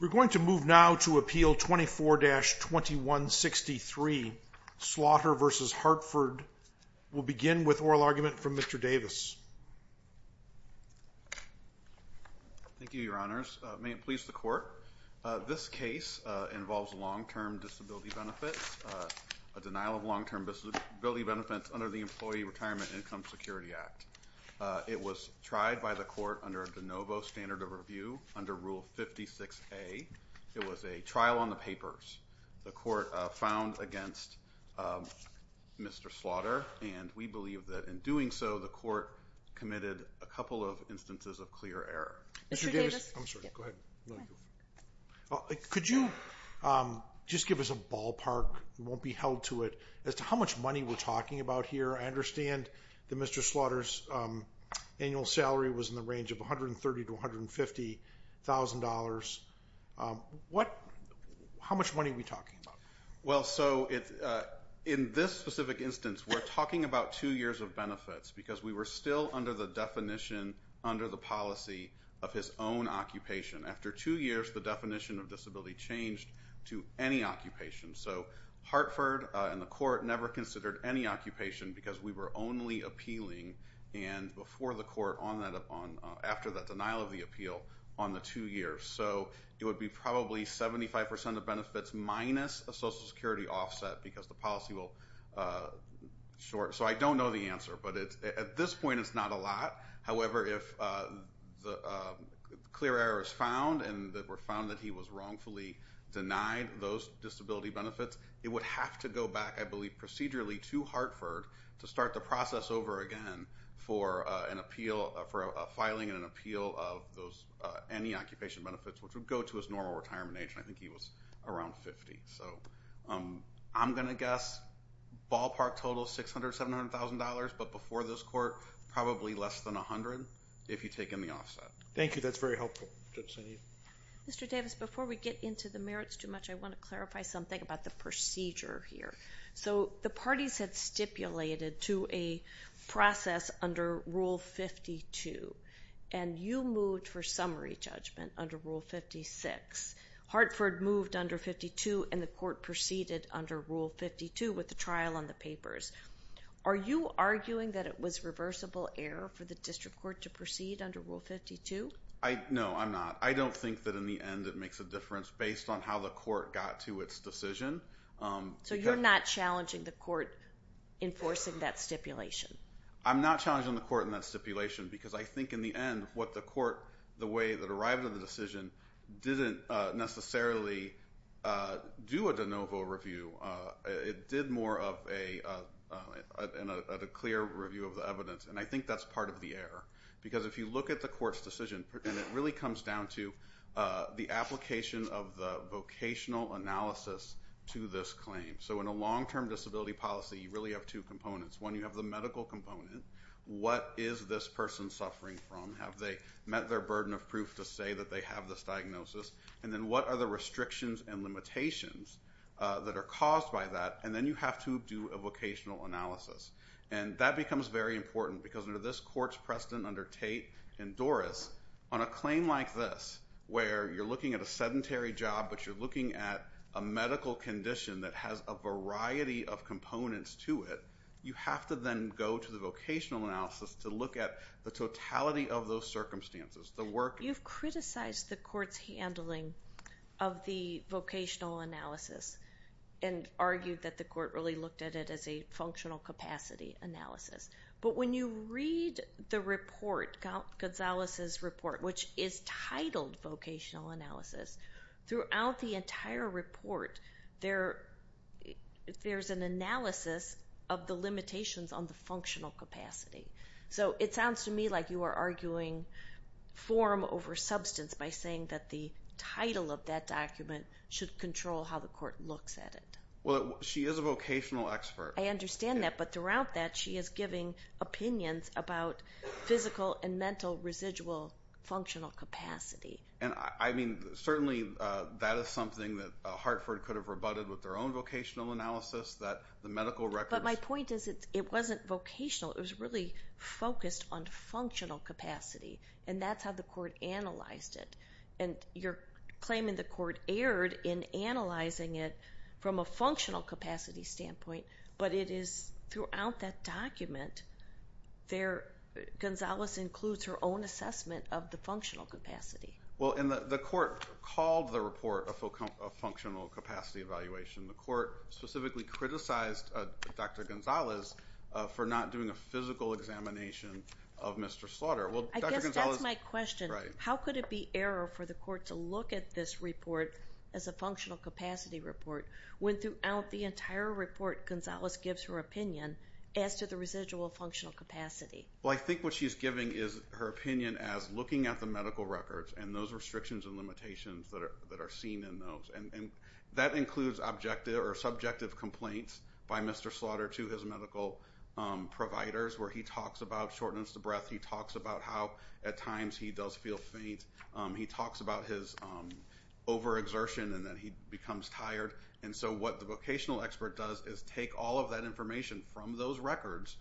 We're going to move now to Appeal 24-2163 Slaughter v. Hartford. We'll begin with oral argument from Mr. Davis. Thank you, your honors. May it please the court. This case involves long-term disability benefits, a denial of long-term disability benefits under the employee retirement income security act. It was tried by the court under a de novo standard of review under Rule 56A. It was a trial on the papers. The court found against Mr. Slaughter, and we believe that in doing so, the court committed a couple of instances of clear error. Could you just give us a ballpark, it won't be held to it, as to how much money we're talking about here? I understand that Mr. Slaughter's annual salary was in the range of $130-$150,000. How much money are we talking about? Well, so in this specific instance, we're talking about two years of benefits because we were still under the definition, under the policy of his own occupation. After two years, the definition of disability changed to any occupation. So Hartford and the court never considered any occupation because we were only appealing and before the court, after that denial of the appeal, on the two years. So it would be probably 75% of benefits minus a social security offset because the policy will short. So I don't know the answer, but at this point it's not a lot. However, if clear error is found and it were found that he was wrongfully denied those disability benefits, it would have to go back, I believe, procedurally to Hartford to start the process over again for an appeal, for a filing and an appeal of those, any occupation benefits, which would go to his normal retirement age, and I think he was around 50. So I'm going to guess ballpark total $600-$700,000, but before this court, probably less than $100 if you take in the Mr. Davis, before we get into the merits too much, I want to clarify something about the procedure here. So the parties had stipulated to a process under Rule 52, and you moved for summary judgment under Rule 56. Hartford moved under 52 and the court proceeded under Rule 52 with the trial on the papers. Are you arguing that it was reversible error for the district court to proceed under Rule 52? No, I'm not. I don't think that in the end it makes a difference based on how the court got to its decision. So you're not challenging the court enforcing that stipulation? I'm not challenging the court in that stipulation because I think in the end what the court, the way that it arrived at the decision, didn't necessarily do a de novo review. It did more of a clear review of the evidence, and I think that's part of the error. Because if you look at the court's decision, and it really comes down to the application of the vocational analysis to this claim. So in a long-term disability policy, you really have two components. One, you have the medical component. What is this person suffering from? Have they met their burden of proof to say that they have this diagnosis? And then what are the restrictions and limitations that are caused by that? And then you have to do a vocational analysis. And that becomes very important because under this court's precedent under Tate and Doris, on a claim like this, where you're looking at a sedentary job, but you're looking at a medical condition that has a variety of components to it, you have to then go to the vocational analysis to look at the totality of those circumstances. You've criticized the court's handling of the vocational analysis and argued that the court really looked at it as a functional capacity analysis. But when you read the report, Gonzalez's report, which is titled Vocational Analysis, throughout the entire report, there's an analysis of the limitations on the functional capacity. So it sounds to me like you are arguing form over substance by saying that the title of that document should control how the court looks at it. Well, she is a vocational expert. I understand that. But throughout that, she is giving opinions about physical and mental residual functional capacity. And I mean, certainly that is something that Hartford could have rebutted with their own vocational analysis, that the medical records... But my point is, it wasn't vocational. It was really focused on functional capacity. And that's how the court analyzed it. And you're claiming the court erred in analyzing it from a functional capacity standpoint. But it is throughout that document, Gonzalez includes her own assessment of the functional capacity. Well, and the court called the report a functional capacity evaluation. The court specifically criticized Dr. Gonzalez for not doing a physical examination of Mr. Slaughter. I guess that's my question. How could it be error for the court to look at this report as a functional capacity report, when throughout the entire report, Gonzalez gives her opinion as to the residual functional capacity? Well, I think what she's giving is her opinion as looking at the medical records and those restrictions and limitations that are seen in those. And that includes objective or subjective complaints by Mr. Slaughter to his medical providers, where he talks about shortness of breath. He talks about how, at times, he does feel faint. He talks about his overexertion and that he becomes tired. And so what the vocational expert does is take all of that information from those records,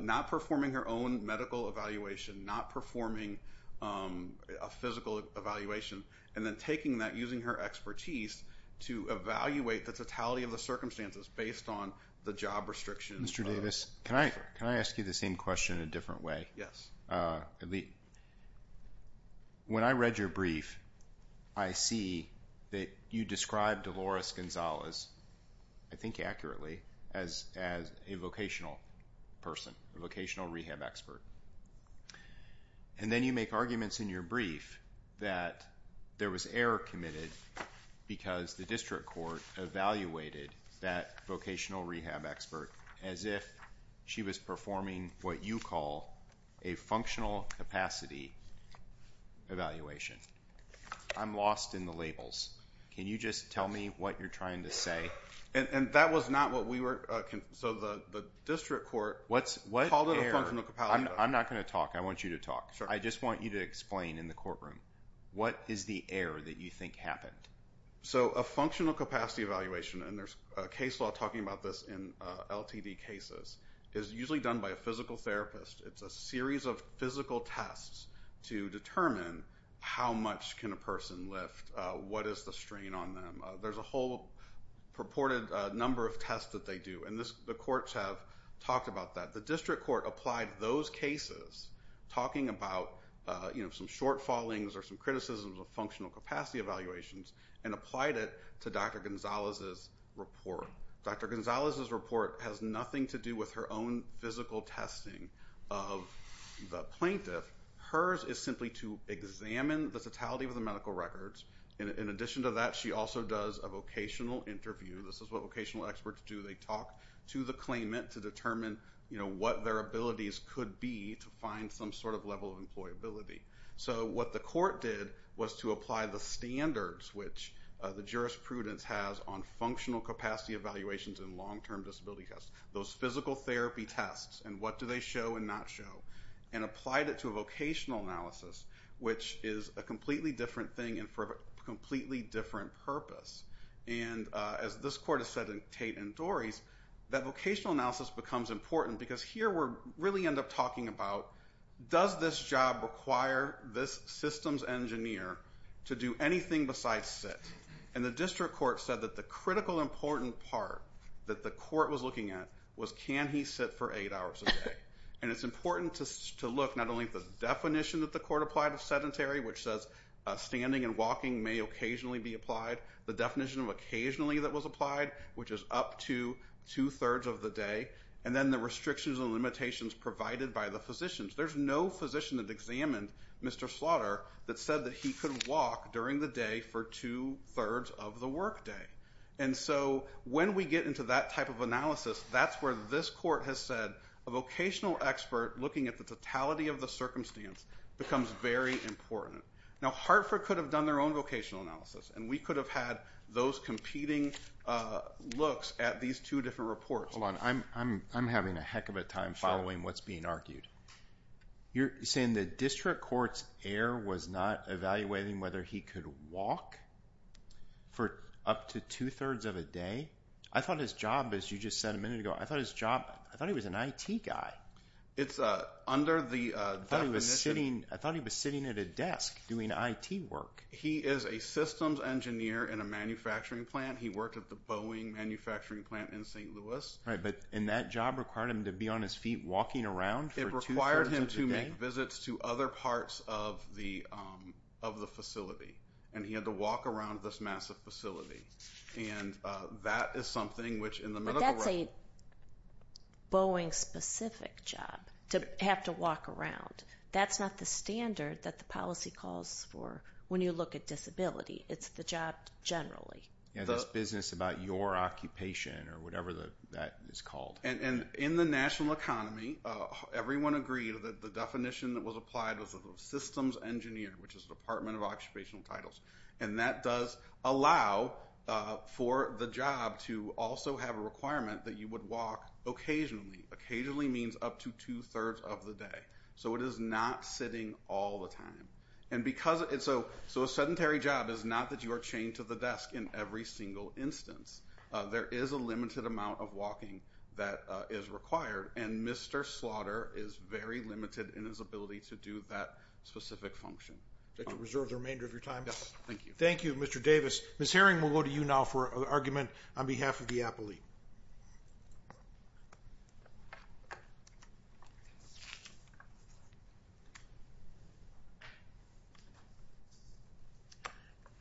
not performing her own medical evaluation, not performing a physical evaluation, and then taking that, using her expertise, to evaluate the totality of the circumstances based on the job restrictions. Mr. Davis, can I ask you the same question in a different way? When I read your brief, I see that you described Dolores Gonzalez, I think accurately, as a vocational person, a vocational rehab expert. And then you make arguments in your brief that there was error committed because the district court evaluated that vocational rehab expert as if she was performing what you call a functional capacity evaluation. I'm lost in the labels. Can you just tell me what you're trying to say? And that was not what we were, so the district court called it a functional capacity evaluation. I'm not going to talk. I want you to talk. I just want you to explain in the courtroom what is the error that you think happened? So a functional capacity evaluation, and there's case law talking about this in LTD cases, is usually done by a physical therapist. It's a series of physical tests to determine how much can a person lift, what is the strain on them. There's a whole purported number of tests that they do, and the courts have talked about that. The district court applied those cases, talking about some short fallings or some criticisms of functional capacity evaluations, and applied it to Dr. Gonzalez's report. Dr. Gonzalez's report has nothing to do with her own physical testing of the plaintiff. Hers is simply to examine the totality of the medical records. In addition to that, she also does a vocational interview. This is what vocational experts do. They talk to the claimant to determine what their abilities could be to find some sort of level of employability. So what the court did was to apply the standards which the jurisprudence has on functional capacity evaluations and long-term disability tests, those physical therapy tests, and what do they show and not show, and applied it to a vocational analysis, which is a completely different thing and for a completely different purpose. And as this court has said in Tate and Dorries, that vocational analysis becomes important because here we really end up talking about, does this job require this systems engineer to do anything besides sit? And the district court said that the critical important part that the court was looking at was, can he sit for eight hours a day? And it's important to look not only at the definition that the court applied of sedentary, which says standing and walking may occasionally be applied, the definition of occasionally that was applied, which is up to two-thirds of the day, and then the restrictions and limitations provided by the physicians. There's no physician that examined Mr. Slaughter that said that he could walk during the day for two-thirds of the work day. And so when we get into that type of analysis, that's where this court has said a vocational expert looking at the totality of the circumstance becomes very important. Now Hartford could have done their own vocational analysis and we could have had those competing looks at these two different reports. Hold on. I'm having a heck of a time following what's being argued. You're saying the district court's heir was not evaluating whether he could walk for up to two-thirds of a day? I thought his job, as you just said a minute ago, I thought his job, I thought he was an IT guy. It's under the definition. I thought he was sitting at a desk doing IT work. He is a systems engineer in a manufacturing plant. He worked at the Boeing manufacturing plant in St. Louis. Right, but and that job required him to be on his feet walking around for two-thirds of the day? And he had to make visits to other parts of the facility. And he had to walk around this massive facility. And that is something which in the middle of the road- But that's a Boeing-specific job, to have to walk around. That's not the standard that the policy calls for when you look at disability. It's the job generally. Yeah, this business about your occupation or whatever that is called. And in the national economy, everyone agreed that the definition that was applied was systems engineer, which is Department of Occupational Titles. And that does allow for the job to also have a requirement that you would walk occasionally. Occasionally means up to two-thirds of the day. So it is not sitting all the time. And so a sedentary job is not that you are chained to the desk in every single instance. There is a limited amount of walking that is required. And Mr. Slaughter is very limited in his ability to do that specific function. Would you like to reserve the remainder of your time? Yes, thank you. Thank you, Mr. Davis. Ms. Herring, we'll go to you now for an argument on behalf of the appellee.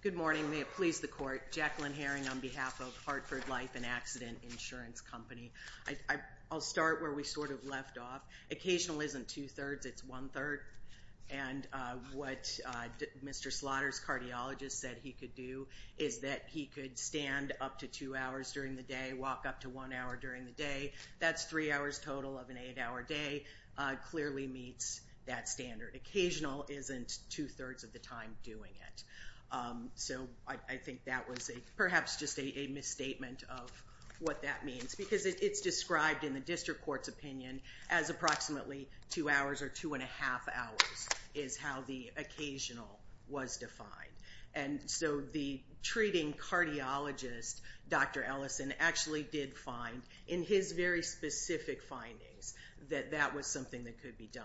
Good morning. May it please the Court. Jacqueline Herring on behalf of Hartford Life and Accident Insurance Company. I'll start where we sort of left off. Occasional isn't two-thirds, it's one-third. And what Mr. Slaughter's cardiologist said he could do is that he could stand up to two hours during the day, walk up to one hour during the day. That's three hours total of an eight-hour day. Clearly meets that standard. Occasional isn't two-thirds of the time doing it. So I think that was perhaps just a misstatement of what that means. Because it's described in the district court's opinion as approximately two hours or two-and-a-half hours is how the was defined. And so the treating cardiologist, Dr. Ellison, actually did find in his very specific findings that that was something that could be done.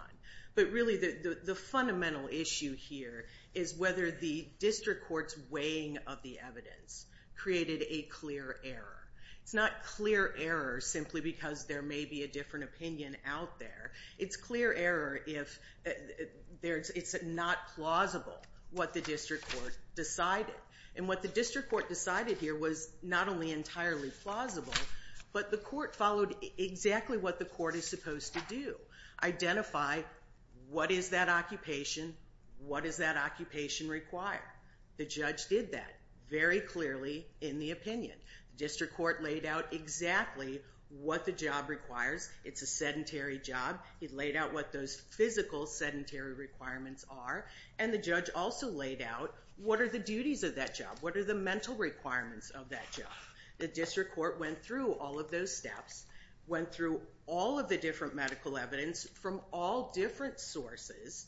But really the fundamental issue here is whether the district court's weighing of the evidence created a clear error. It's not clear error simply because there may be a different opinion out there. It's not plausible what the district court decided. And what the district court decided here was not only entirely plausible, but the court followed exactly what the court is supposed to do. Identify what is that occupation, what does that occupation require? The judge did that very clearly in the opinion. The district court laid out exactly what the job requires. It's a sedentary job. He laid out what those physical sedentary requirements are. And the judge also laid out what are the duties of that job, what are the mental requirements of that job. The district court went through all of those steps, went through all of the different medical evidence from all different sources,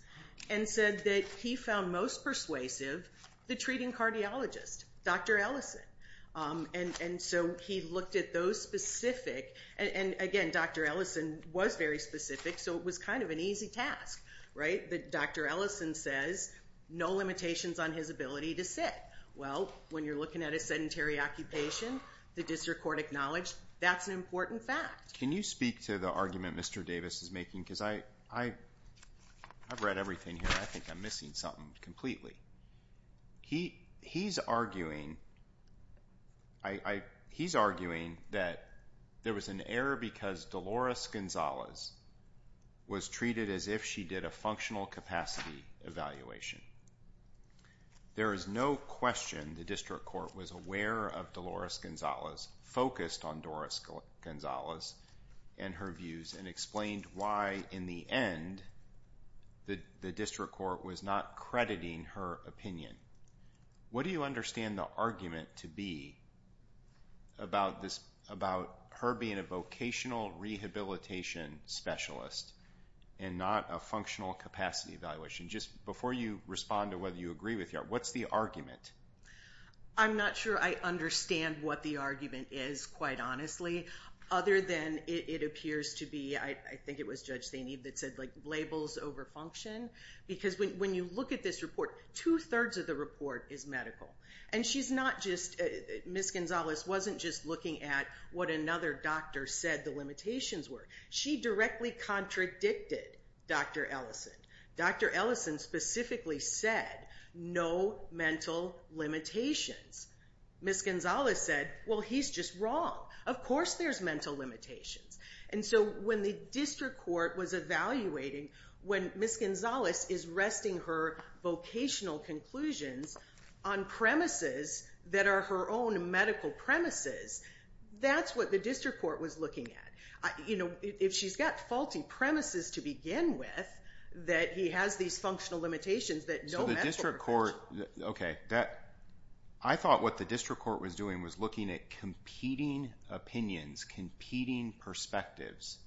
and said that he found most persuasive the treating cardiologist, Dr. Ellison. And so he looked at those specific, and again Dr. Ellison was very specific, so it was kind of an easy task, right? Dr. Ellison says no limitations on his ability to sit. Well, when you're looking at a sedentary occupation, the district court acknowledged that's an important fact. Can you speak to the argument Mr. Davis is making? Because I've read everything here, I think I'm missing something completely. He's arguing that there was an error because Dolores Gonzalez was treated as if she did a functional capacity evaluation. There is no question the district court was aware of Dolores Gonzalez, focused on Dolores Gonzalez and her views, and explained why in the end the district court was not crediting her opinion. What do you understand the argument to be about her being a vocational rehabilitation specialist and not a functional capacity evaluation? Just before you respond to whether you agree with her, what's the argument? I'm not sure I understand what the argument is, quite honestly, other than it appears to be, I think it was Judge Zainib that said labels over function. Because when you look at this report, two-thirds of the report is medical. Ms. Gonzalez wasn't just looking at what another doctor said the limitations were. She directly contradicted Dr. Ellison. Dr. Ellison specifically said, no mental limitations. Ms. Gonzalez said, well he's just wrong. Of course there's mental limitations. So when the district court was evaluating, when Ms. Gonzalez is resting her vocational conclusions on premises that are her own medical premises, that's what the district court was looking at. You know, if she's got faulty premises to begin with, that he has these functional limitations that no medical records. I thought what the district court was doing was looking at competing opinions, competing perspectives,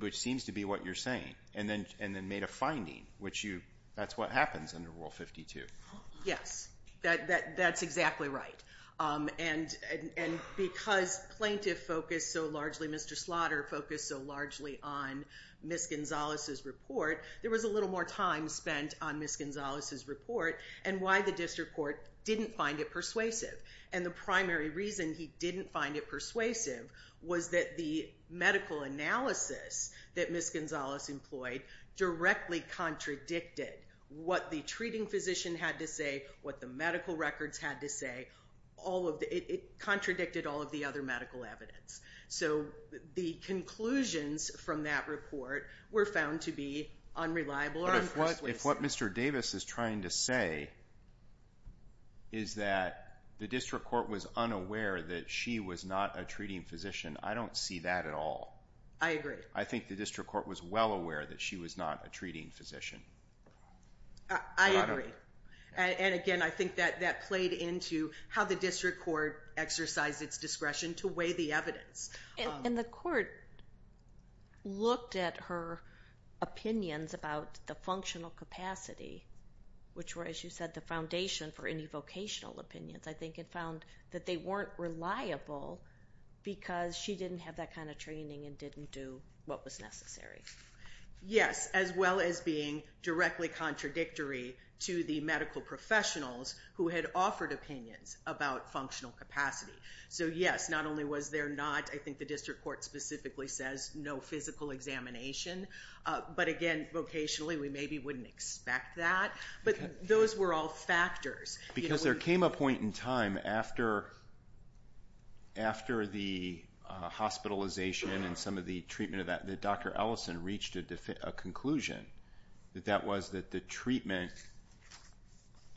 which seems to be what you're saying, and then made a finding, which that's what happens under Rule 52. Yes, that's exactly right. And because plaintiff focused so largely, Mr. Slaughter focused so largely on Ms. Gonzalez's report, there was a little more time spent on Ms. Gonzalez's report and why the district court didn't find it persuasive. And the primary reason he didn't find it persuasive was that the medical analysis that Ms. Gonzalez employed directly contradicted what the treating physician had to say, what the medical records had to say. It contradicted all of the other medical evidence. So the conclusions from that report were found to be unreliable or unpersuasive. If what Mr. Davis is trying to say is that the district court was unaware that she was not a treating physician, I don't see that at all. I agree. I think the district court was well aware that she was not a treating physician. I agree. And again, I think that that played into how the district court exercised its discretion to weigh the evidence. And the court looked at her opinions about the functional capacity, which were, as you said, the foundation for any vocational opinions. I think it found that they weren't reliable because she didn't have that kind of training and didn't do what was necessary. Yes, as well as being directly contradictory to the medical professionals who had offered opinions about functional capacity. So yes, not only was there not, I think the district court specifically says, no physical examination. But again, vocationally, we maybe wouldn't expect that. But those were all factors. Because there came a point in time after the hospitalization and some of the treatment of that, that Dr. Ellison reached a conclusion that that was that the treatment,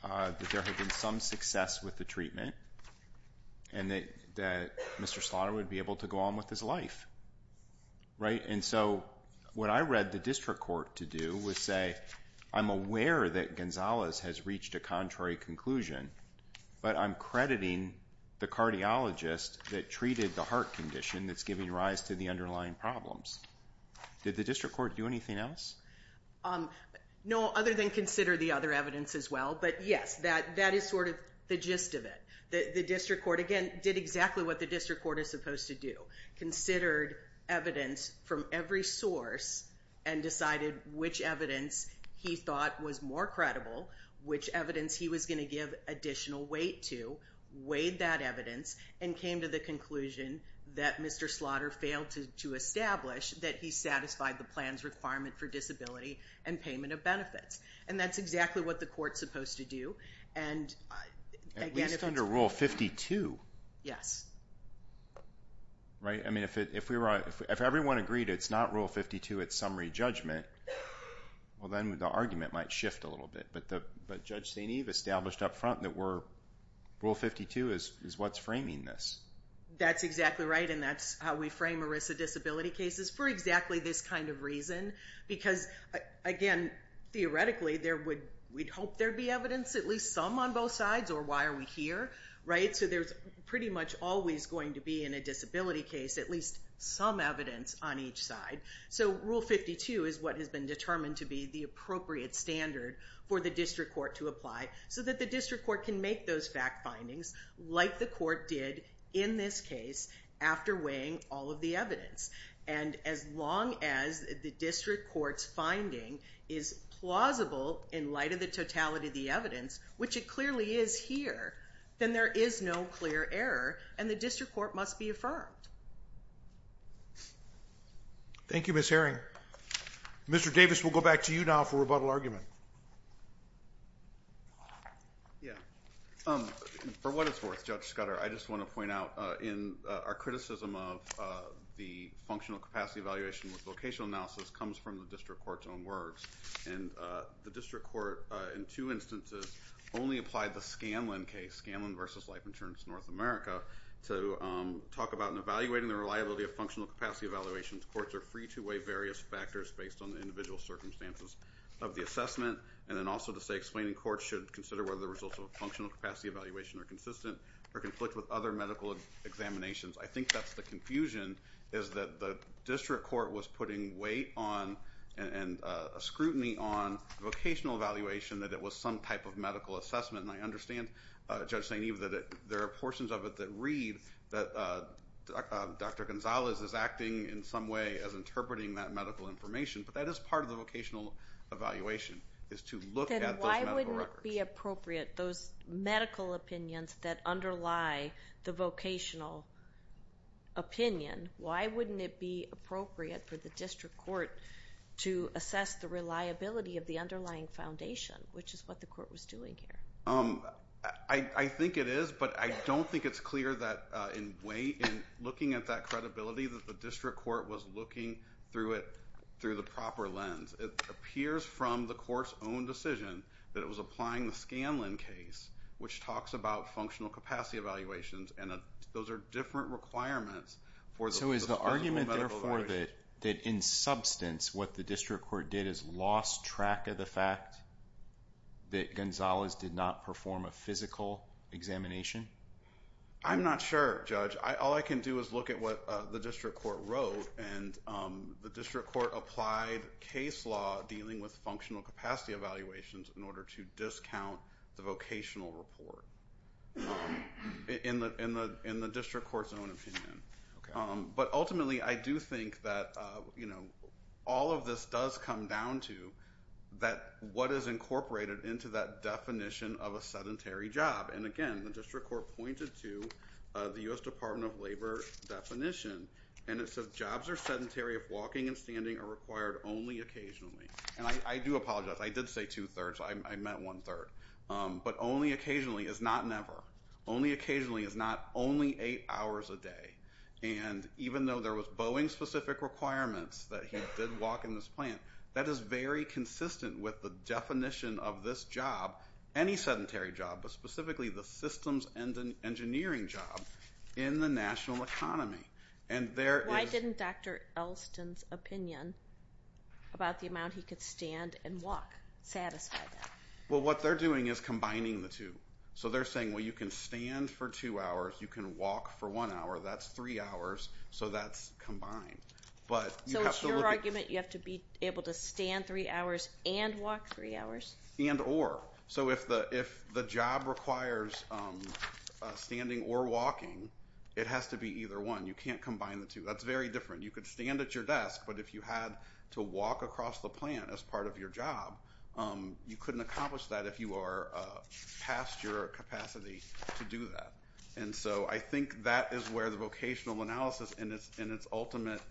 that there had been some success with the treatment and that Mr. Slaughter would be able to go on with his life, right? And so what I read the district court to do was say, I'm aware that Gonzalez has reached a contrary conclusion, but I'm crediting the cardiologist that treated the heart condition that's giving rise to the underlying problems. Did the district court do anything else? No, other than consider the other evidence as well. But yes, that is sort of the gist of it. The district court, again, did exactly what the district court is supposed to do. Considered evidence from every source and decided which evidence he thought was more credible, which evidence he was going to give additional weight to, weighed that evidence and came to the conclusion that Mr. Slaughter failed to establish that he satisfied the plan's requirement for disability and payment of benefits. And that's exactly what the court is supposed to do. And at least under Rule 52. Yes. Right? I mean, if everyone agreed it's not Rule 52, it's summary judgment, well, then the argument might shift a little bit. But Judge St. Eve established up front that Rule 52 is what's framing this. That's exactly right. And that's how we frame ERISA disability cases for exactly this kind of reason. Because, again, theoretically, we'd hope there'd be evidence, at least some on both sides, or why are we here? Right? So there's pretty much always going to be in a disability case at least some evidence on each side. So Rule 52 is what has been determined to be the appropriate standard for the district court to apply so that the district court can make those fact findings like the court did in this case after weighing all of the evidence. And as long as the district court's finding is plausible in light of the totality of the evidence, which it clearly is here, then there is no clear error and the district court must be affirmed. Thank you, Ms. Herring. Mr. Davis, we'll go back to you now for rebuttal argument. Yeah. For what it's worth, Judge Scudder, I just want to point out in our criticism of the functional capacity evaluation with vocational analysis comes from the district court's own words. And the district court, in two instances, only applied the Scanlon case, Scanlon v. Life Insurance North America, to talk about and evaluating the reliability of functional capacity evaluations. Courts are free to weigh various factors based on individual circumstances of the assessment. And then also to say explaining courts should consider whether the results of a functional capacity evaluation are consistent or conflict with other medical examinations. I think that's the confusion is that the district court was putting weight on and scrutiny on vocational evaluation that it was some type of medical assessment. And I understand, Judge St. Eve, that there are portions of it that read that Dr. Gonzalez is acting in some way as interpreting that medical information. But that is part of the vocational evaluation, is to look at those medical records. Then why wouldn't it be appropriate, those medical opinions that underlie the vocational opinion, why wouldn't it be appropriate for the district court to assess the reliability of the underlying foundation, which is what the court was doing here? I think it is, but I don't think it's clear that in looking at that credibility, that the district court was looking through the proper lens. It appears from the court's own decision that it was applying the Scanlon case, which talks about functional capacity evaluations, and those are different requirements for the physical medical evaluation. So is the argument, therefore, that in substance what the district court did is lost track of the fact that Gonzalez did not perform a physical examination? I'm not sure, Judge. All I can do is look at what the district court wrote, and the district court applied case law dealing with functional capacity evaluations in order to discount the vocational report, in the district court's own opinion. But ultimately, I do think that all of this does come down to what is incorporated into that definition of a job, which is what the district court pointed to, the U.S. Department of Labor definition, and it says, jobs are sedentary if walking and standing are required only occasionally. And I do apologize. I did say two-thirds. I meant one-third. But only occasionally is not never. Only occasionally is not only eight hours a day. And even though there was Boeing-specific requirements that he did walk in this plant, that is very consistent with the definition of this job, any sedentary job, but specifically the systems and engineering job in the national economy. And there is... Why didn't Dr. Elston's opinion about the amount he could stand and walk satisfy that? Well what they're doing is combining the two. So they're saying, well, you can stand for two hours, you can walk for one hour, that's three hours, so that's combined. But you have to be able to stand three hours and walk three hours. And or. So if the job requires standing or walking, it has to be either one. You can't combine the two. That's very different. You could stand at your desk, but if you had to walk across the plant as part of your job, you couldn't accomplish that if you are past your capacity to do that. And so I think that is where the vocational analysis in its ultimate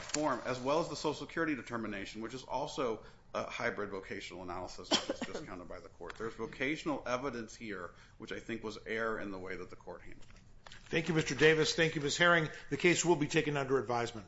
form, as well as the social security determination, which is also a hybrid vocational analysis that was just counted by the court. There's vocational evidence here, which I think was air in the way that the court handled it. Thank you Mr. Davis. Thank you Ms. Herring. The case will be taken under advisement.